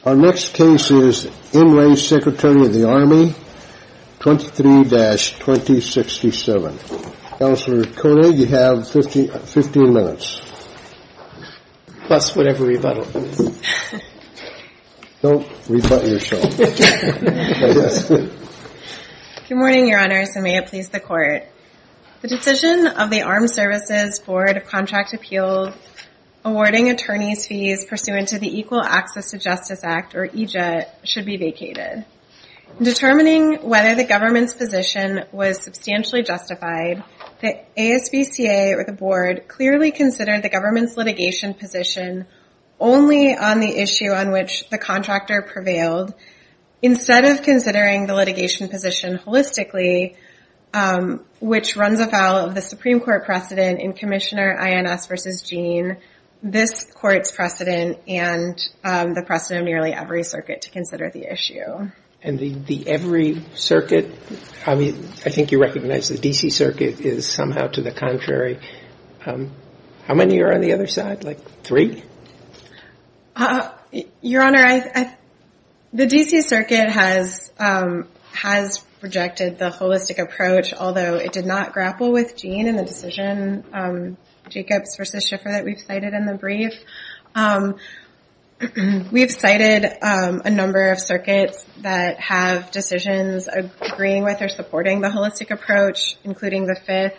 23-2067. Counselor Koenig, you have fifteen minutes. Bless whatever rebuttal it is. Don't rebut yourself. Good morning, Your Honors, and may it please the court. The decision of the Armed Services Board of Contract Appeal, awarding attorneys fees pursuant to the Equal Access to Justice Act, or EJA, should be vacated. Determining whether the government's position was substantially justified, the ASBCA, or the Board, clearly considered the government's litigation position only on the issue on which the contractor prevailed, instead of considering the litigation position holistically, which runs afoul of the Supreme Court precedent in Commissioner Ins v. Gene, this Court's precedent, and the precedent of nearly every circuit to consider the issue. And the every circuit, I mean, I think you recognize the D.C. Circuit is somehow to the How many are on the other side, like three? Your Honor, the D.C. Circuit has rejected the holistic approach, although it did not grapple with Gene in the decision, Jacobs v. Schiffer, that we've cited in the brief. We've cited a number of circuits that have decisions agreeing with or supporting the holistic approach, including the 5th,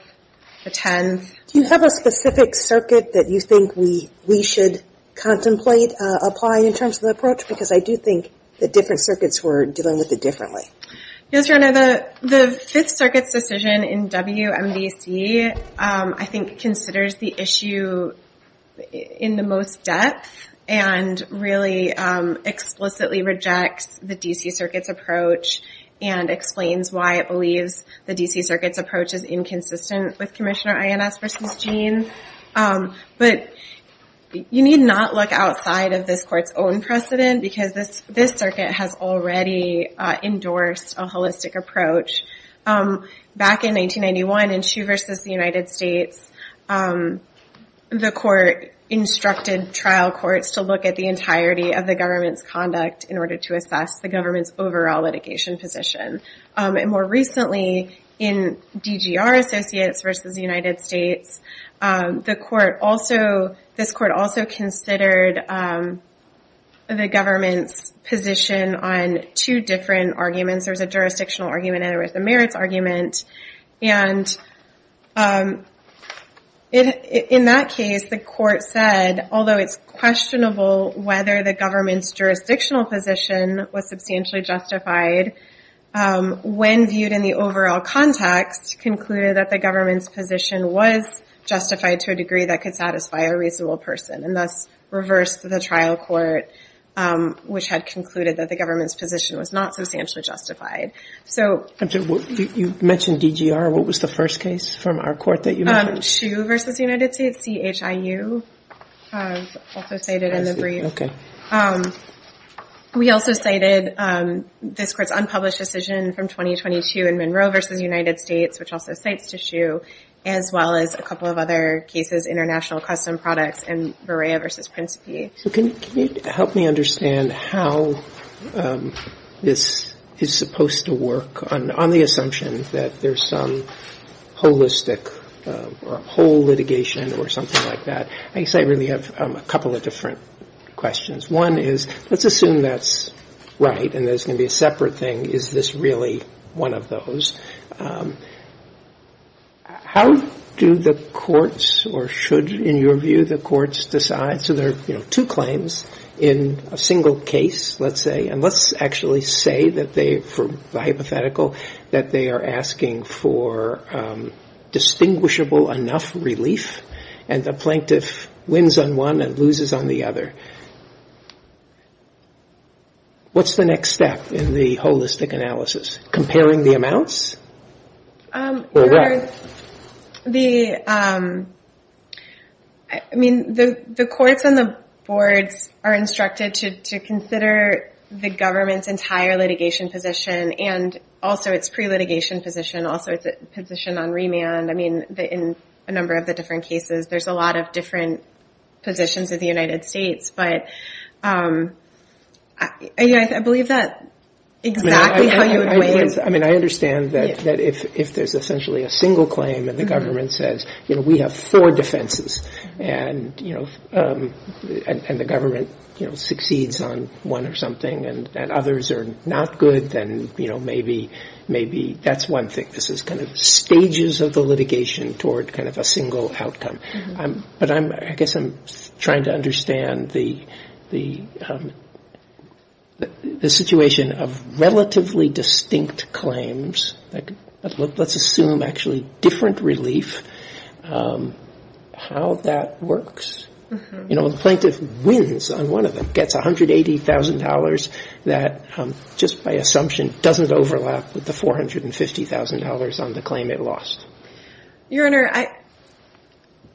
the 10th. Do you have a specific circuit that you think we should contemplate applying in terms of the approach? Because I do think the different circuits were dealing with it differently. Yes, Your Honor, the 5th Circuit's decision in WMDC, I think, considers the issue in the most depth, and really explicitly rejects the D.C. Circuit's approach, and explains why it believes the D.C. Circuit's approach is inconsistent with Commissioner Ins v. Gene. But you need not look outside of this Court's own precedent, because this circuit has already endorsed a holistic approach. Back in 1991, in Chu v. United States, the Court instructed trial courts to look at the entirety of the government's conduct in order to assess the government's overall litigation position. And more recently, in DGR Associates v. United States, this Court also considered the government's position on two different arguments. There was a jurisdictional argument, and there was a merits argument. And in that case, the Court said, although it's questionable whether the government's jurisdictional position was substantially justified, when viewed in the overall context, concluded that the government's position was justified to a degree that could satisfy a person. And thus, reversed the trial court, which had concluded that the government's position was not substantially justified. You mentioned DGR. What was the first case from our court that you mentioned? Chu v. United States, CHIU, I've also cited in the brief. We also cited this Court's unpublished decision from 2022 in Monroe v. United States, which cites CHIU, as well as a couple of other cases, international custom products, and Berrea v. Principi. Can you help me understand how this is supposed to work on the assumption that there's some holistic or whole litigation or something like that? I guess I really have a couple of different questions. One is, let's assume that's right, and there's going to be a separate thing. Is this really one of those? How do the courts, or should, in your view, the courts decide? So there are two claims in a single case, let's say. And let's actually say that they, for hypothetical, that they are asking for distinguishable enough relief, and the plaintiff wins on one and loses on the other. What's the next step in the holistic analysis? Comparing the amounts? I mean, the courts and the boards are instructed to consider the government's entire litigation position, and also its pre-litigation position, also its position on remand. I mean, in a number of the different cases, there's a lot of different positions of the United States. But I believe that exactly how you would weigh it. I mean, I understand that if there's essentially a single claim, and the government says, we have four defenses, and the government succeeds on one or something, and others are not good, then maybe that's one thing. This is kind of stages of the litigation toward kind of a single outcome. But I guess I'm trying to understand the situation of relatively distinct claims, let's assume actually different relief, how that works. You know, the plaintiff wins on one of them, gets $180,000 that just by assumption doesn't overlap with the $450,000 on the claim it lost. Your Honor,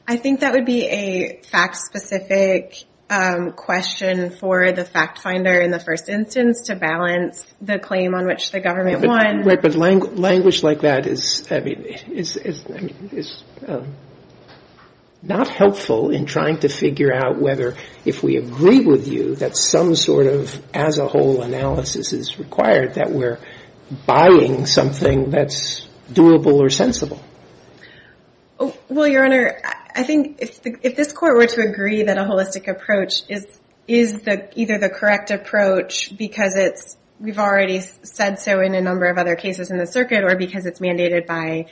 I think that would be a fact-specific question for the fact finder in the first instance to balance the claim on which the government won. Right, but language like that is not helpful in trying to figure out whether if we agree with you that some sort of as a whole analysis is required, that we're buying something that's doable or sensible. Well, Your Honor, I think if this court were to agree that a holistic approach is either the correct approach because it's, we've already said so in a number of other cases in the circuit, or because it's mandated by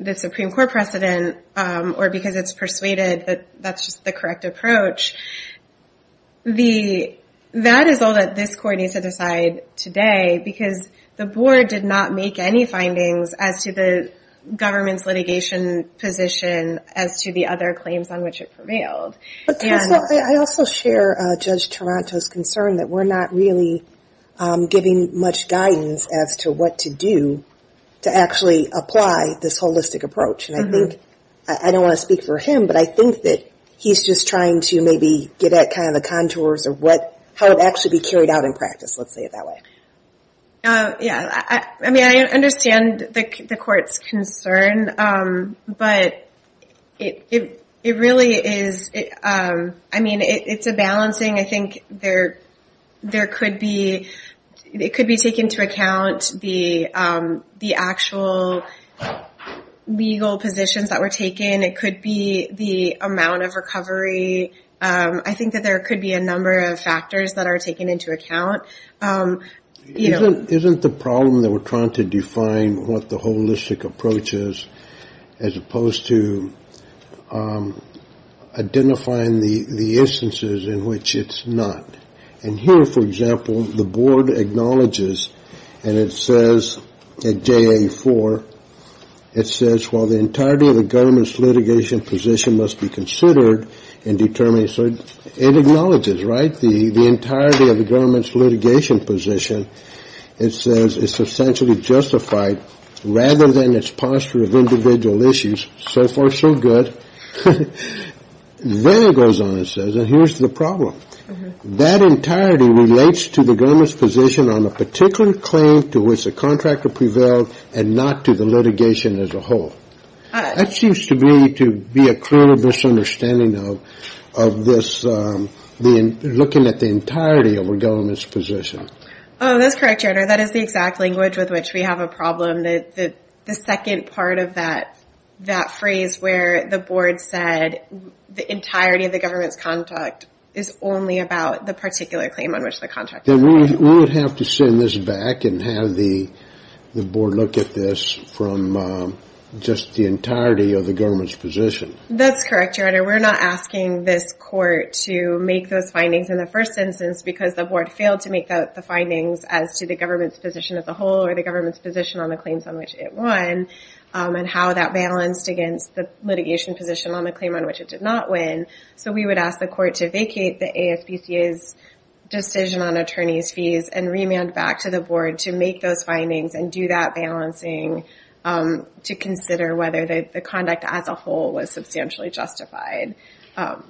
the Supreme Court precedent, or because it's persuaded that that's just the correct approach, that is all that this court needs to decide today because the board did not make any findings as to the government's litigation position as to the other claims on which it prevailed. But counsel, I also share Judge Toronto's concern that we're not really giving much guidance as to what to do to actually apply this holistic approach. And I think, I don't want to speak for him, but I think that he's just trying to maybe get at kind of the contours of what, how it would actually be carried out in practice, let's say it that way. Yeah, I mean, I understand the court's concern, but it really is, I mean, it's a balancing, I think there could be, it could be taken into account the actual legal positions that were taken, it could be the amount of recovery, I think that there could be a number of factors that are taken into account. Isn't the problem that we're trying to define what the holistic approach is as opposed to identifying the instances in which it's not? And here, for example, the board acknowledges, and it says at JA4, it says while the entirety of the government's litigation position must be considered and determined, so it acknowledges, right? The entirety of the government's litigation position, it says, is substantially justified rather than its posture of individual issues, so far so good. Then it goes on, it says, and here's the problem. That entirety relates to the government's position on a particular claim to which the contractor prevailed and not to the litigation as a whole. That seems to me to be a clear misunderstanding of this, looking at the entirety of a government's position. Oh, that's correct, your honor. That is the exact language with which we have a problem. The second part of that phrase where the board said the entirety of the government's contract is only about the particular claim on which the contract prevailed. We would have to send this back and have the board look at this from just the entirety of the government's position. That's correct, your honor. We're not asking this court to make those findings in the first instance because the board failed to make the findings as to the government's position as a whole or the government's position on the claims on which it won and how that balanced against the litigation position on the claim on which it did not win. We would ask the court to vacate the ASPCA's decision on attorney's fees and remand back to the board to make those findings and do that balancing to consider whether the conduct as a whole was substantially justified. Are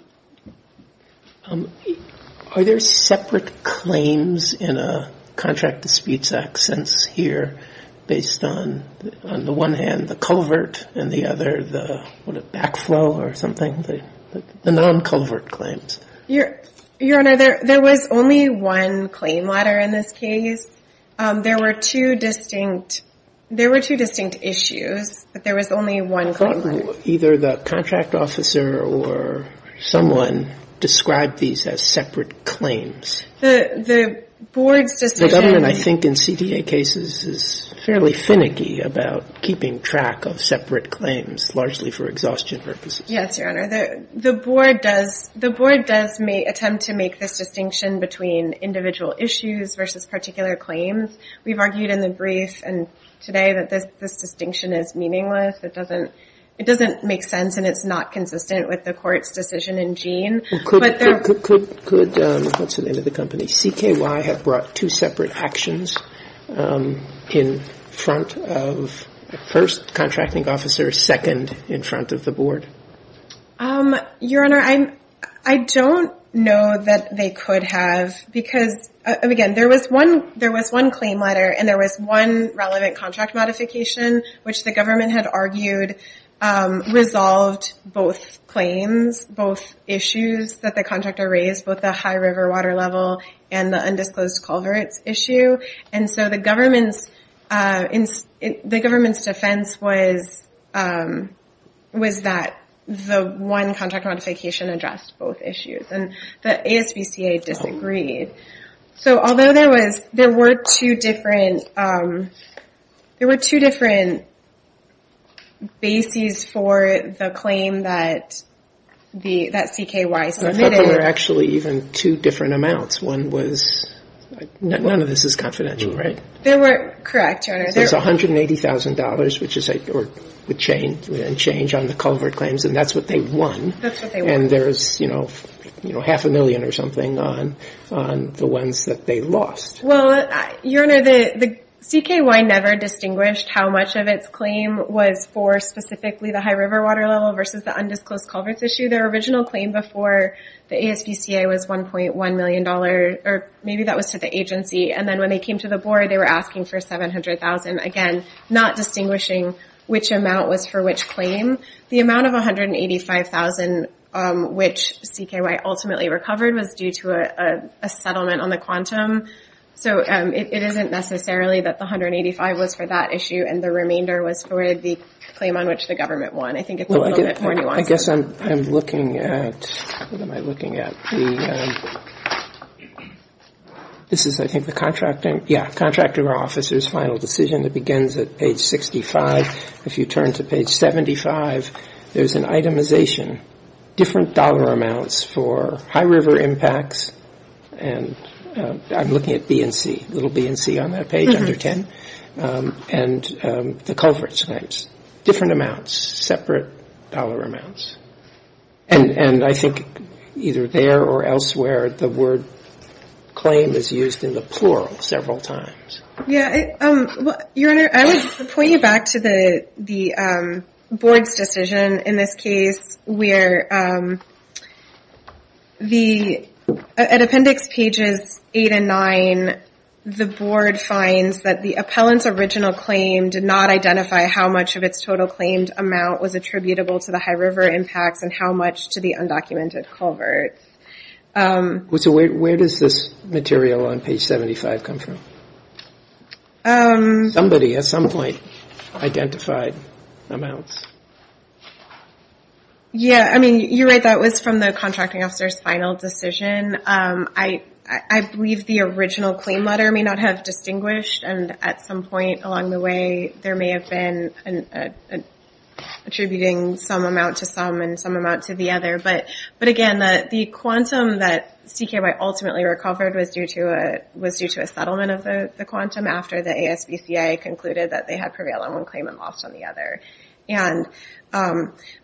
there separate claims in a contract disputes act since here based on, on one hand the culvert and the other the backflow or something, the non-culvert claims? Your honor, there was only one claim letter in this case. There were two distinct issues, but there was only one claim letter. Either the contract officer or someone described these as separate claims. The board's decision. I think in CDA cases is fairly finicky about keeping track of separate claims largely for exhaustion purposes. Yes, your honor. The board does, the board does may attempt to make this distinction between individual issues versus particular claims. We've argued in the brief and today that this, this distinction is meaningless. It doesn't, it doesn't make sense and it's not consistent with the court's decision in Jean. Could, could, could, could, what's the name of the company? CKY have brought two separate actions in front of first contracting officer, second in front of the board. Your honor, I'm, I don't know that they could have, because again, there was one, there was one claim letter and there was one relevant contract modification which the government had argued, resolved both claims, both issues that the contractor raised, both the high river water level and the undisclosed culverts issue. And so the government's, the government's defense was, was that the one contract modification addressed both issues and the ASBCA disagreed. So although there was, there were two different, there were two different bases for the claim that the, that CKY submitted. There were actually even two different amounts. One was, none of this is confidential, right? There were, correct, your honor. There's $180,000, which is like, or with change, change on the culvert claims and that's what they won. And there's, you know, you know, half a million or something on, on the ones that they lost. Well, your honor, the, the CKY never distinguished how much of its claim was for specifically the high river water level versus the undisclosed culverts issue. Their original claim before the ASBCA was $1.1 million or maybe that was to the agency. And then when they came to the board, they were asking for 700,000, again, not distinguishing which amount was for which claim. The amount of $185,000, which CKY ultimately recovered was due to a, a settlement on the quantum. So it isn't necessarily that the $185,000 was for that issue and the remainder was for the claim on which the government won. I think it's a little bit more nuanced. I guess I'm, I'm looking at, what am I looking at? This is I think the contracting, yeah, contractor officer's final decision that begins at page 65. If you turn to page 75, there's an itemization, different dollar amounts for high river impacts. And I'm looking at B and C, little B and C on that page under 10. And the culverts claims, different amounts, separate dollar amounts. And I think either there or elsewhere, the word claim is used in the plural several times. Yeah. Your Honor, I would point you back to the, the board's decision in this case where the, at appendix pages eight and nine, the board finds that the appellant's original claim did not identify how much of its total claimed amount was attributable to the high river impacts and how much to the undocumented culverts. So where, where does this material on page 75 come from? Somebody at some point identified amounts. Yeah. I mean, you're right. That was from the contracting officer's final decision. I, I believe the original claim letter may not have distinguished. And at some point along the way, there may have been an attributing some amount to some and some amount to the other. But, but again, the, the quantum that CKY ultimately recovered was due to a, was due to a settlement of the quantum after the ASBCA concluded that they had prevailed on one claim and lost on the other. And,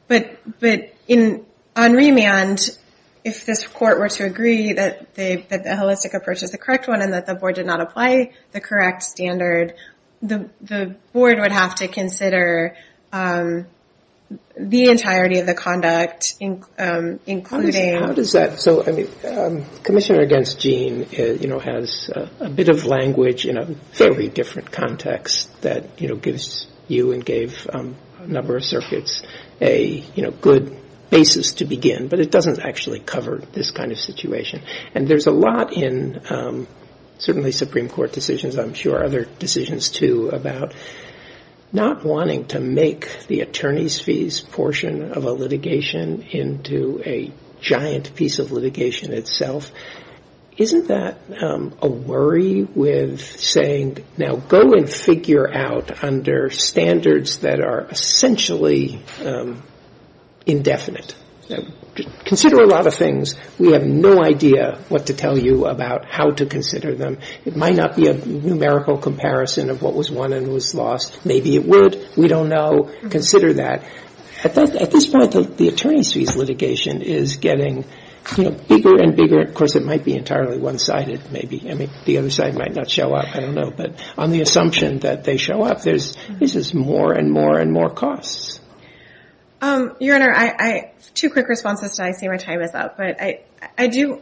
but, but in, on remand, if this court were to agree that they, that the holistic approach is the correct one and that the board did not apply the correct standard, the, the board would have to consider the entirety of the conduct including... How does that? So, I mean, Commissioner Against Gene, you know, has a bit of language in a very different context that, you know, gives you and gave a number of circuits a, you know, good basis to begin, but it doesn't actually cover this kind of And there's a lot in certainly Supreme Court decisions, I'm sure other decisions too, about not wanting to make the attorney's fees portion of a litigation itself. Isn't that a worry with saying, now go and figure out under standards that are essentially indefinite. Consider a lot of things. We have no idea what to tell you about how to consider them. It might not be a numerical comparison of what was won and what was lost. Maybe it would. We don't know. Consider that. At this point, the attorney's fees litigation is getting, you know, bigger and bigger. Of course, it might be entirely one sided, maybe. I mean, the other side might not show up. I don't know. But on the assumption that they show up, there's, this is more and more and more costs. Your Honor, I, I, two quick responses and I see my time is up, but I, I do.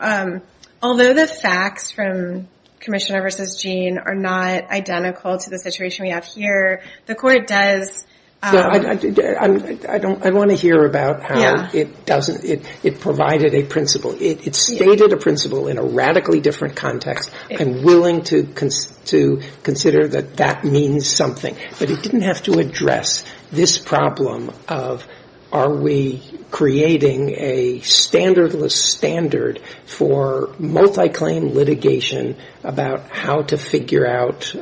Although the facts from Commissioner versus Gene are not identical to the situation we have here. The court does. So I, I, I don't, I want to hear about how it doesn't, it, it provided a principle. It stated a principle in a radically different context. I'm willing to, to consider that that means something. But it didn't have to address this problem of are we creating a standardless standard for multi-claim litigation about how to figure out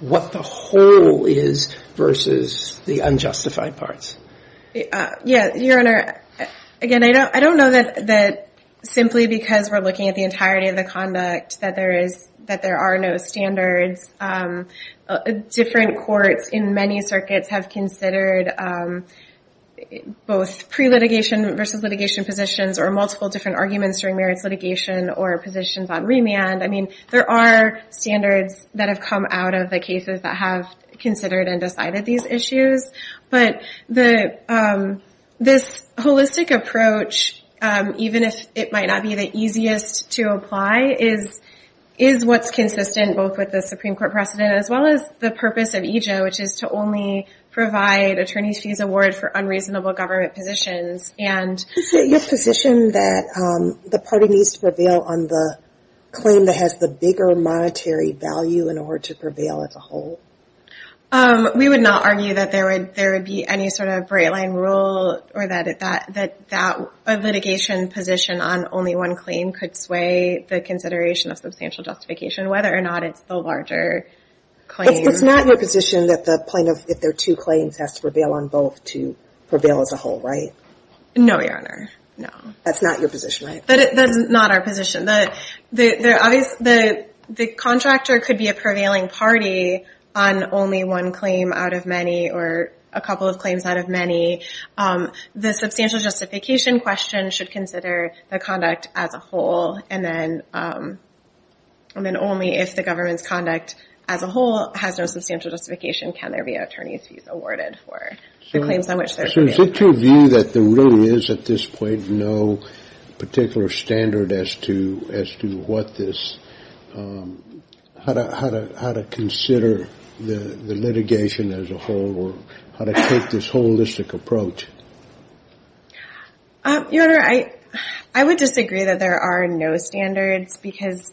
what the whole is versus the unjustified parts. Yeah. Your Honor, again, I don't, I don't know that, that simply because we're looking at the entirety of the conduct that there is, that there are no standards. Different courts in many circuits have considered both pre-litigation versus litigation positions or multiple different arguments during merits litigation or positions on remand. I mean, there are standards that have come out of the cases that have considered and decided these issues, but the, this holistic approach, even if it might not be the easiest to apply is, is what's consistent both with the Supreme Court precedent, as well as the purpose of EJA, which is to only provide attorneys fees award for unreasonable government positions. Is it your position that the party needs to prevail on the claim that has the bigger monetary value in order to prevail as a whole? We would not argue that there would, there would be any sort of breakline rule or that, that, that, that a litigation position on only one claim could sway the consideration of substantial justification, whether or not it's the larger claim. It's not your position that the plaintiff, if there are two claims has to prevail on both to prevail as a whole, right? No, Your Honor. No. That's not your position, right? That's not our position. The, the, the contractor could be a prevailing party on only one claim out of many, or a couple of claims out of many. The substantial justification question should consider the conduct as a whole, and then, and then only if the government's conduct as a whole has no substantial justification, can there be an attorney's fees awarded for the claims on which there should be. Is it your view that there really is at this point no particular standard as to, as to what this, how to, how to, how to consider the, the litigation as a whole or how to take this holistic approach? Your Honor, I, I would disagree that there are no standards because,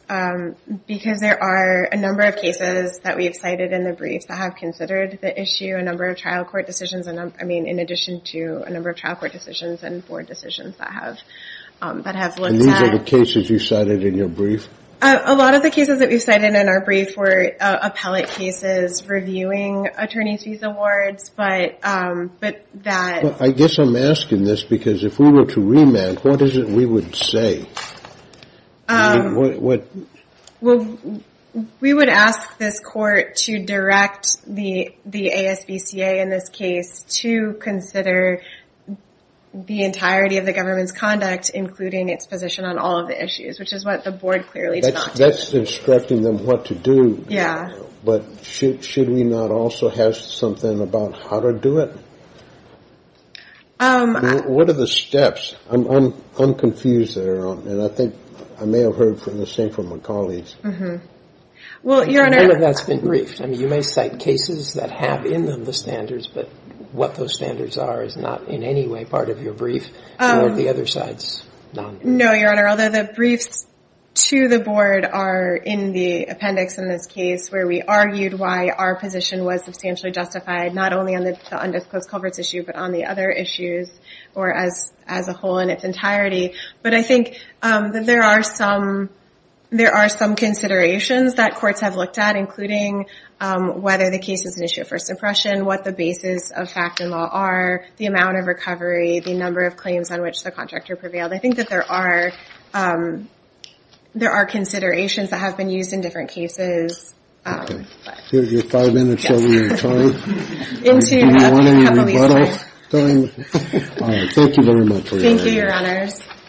because there are a number of cases that we've cited in the brief that have considered the issue, a number of trial court decisions. And I mean, in addition to a number of trial court decisions and board decisions that have, that have looked at. And these are the cases you cited in your brief? A lot of the cases that we've cited in our brief were appellate cases, reviewing attorney's fees awards, but, but that. I guess I'm asking this because if we were to remand, what is it we would say? What, what? We would ask this court to direct the, the ASBCA in this case to consider the entirety of the government's conduct, including its position on all of the issues, which is what the board clearly did not do. That's instructing them what to do. Yeah. But should, should we not also have something about how to do it? What are the steps? I'm, I'm, I'm confused there. And I think I may have heard the same from my colleagues. Well, Your Honor. None of that's been briefed. I mean, you may cite cases that have in them the standards, but what those standards are is not in any way part of your brief or the other side's. No, Your Honor. Although the briefs to the board are in the appendix in this case where we argued why our position was substantially justified, not only on the undisclosed culverts issue, but on the other issues or as, as a whole in its entirety. But I think that there are some, there are some considerations that courts have looked at, including whether the case is an issue of first impression, what the basis of fact and law are, the amount of recovery, the number of claims on which the contractor prevailed. I think that there are, there are considerations that have been used in different cases. Here's your five minutes over your time. In tune. Thank you very much. Thank you, Your Honors. Thank you.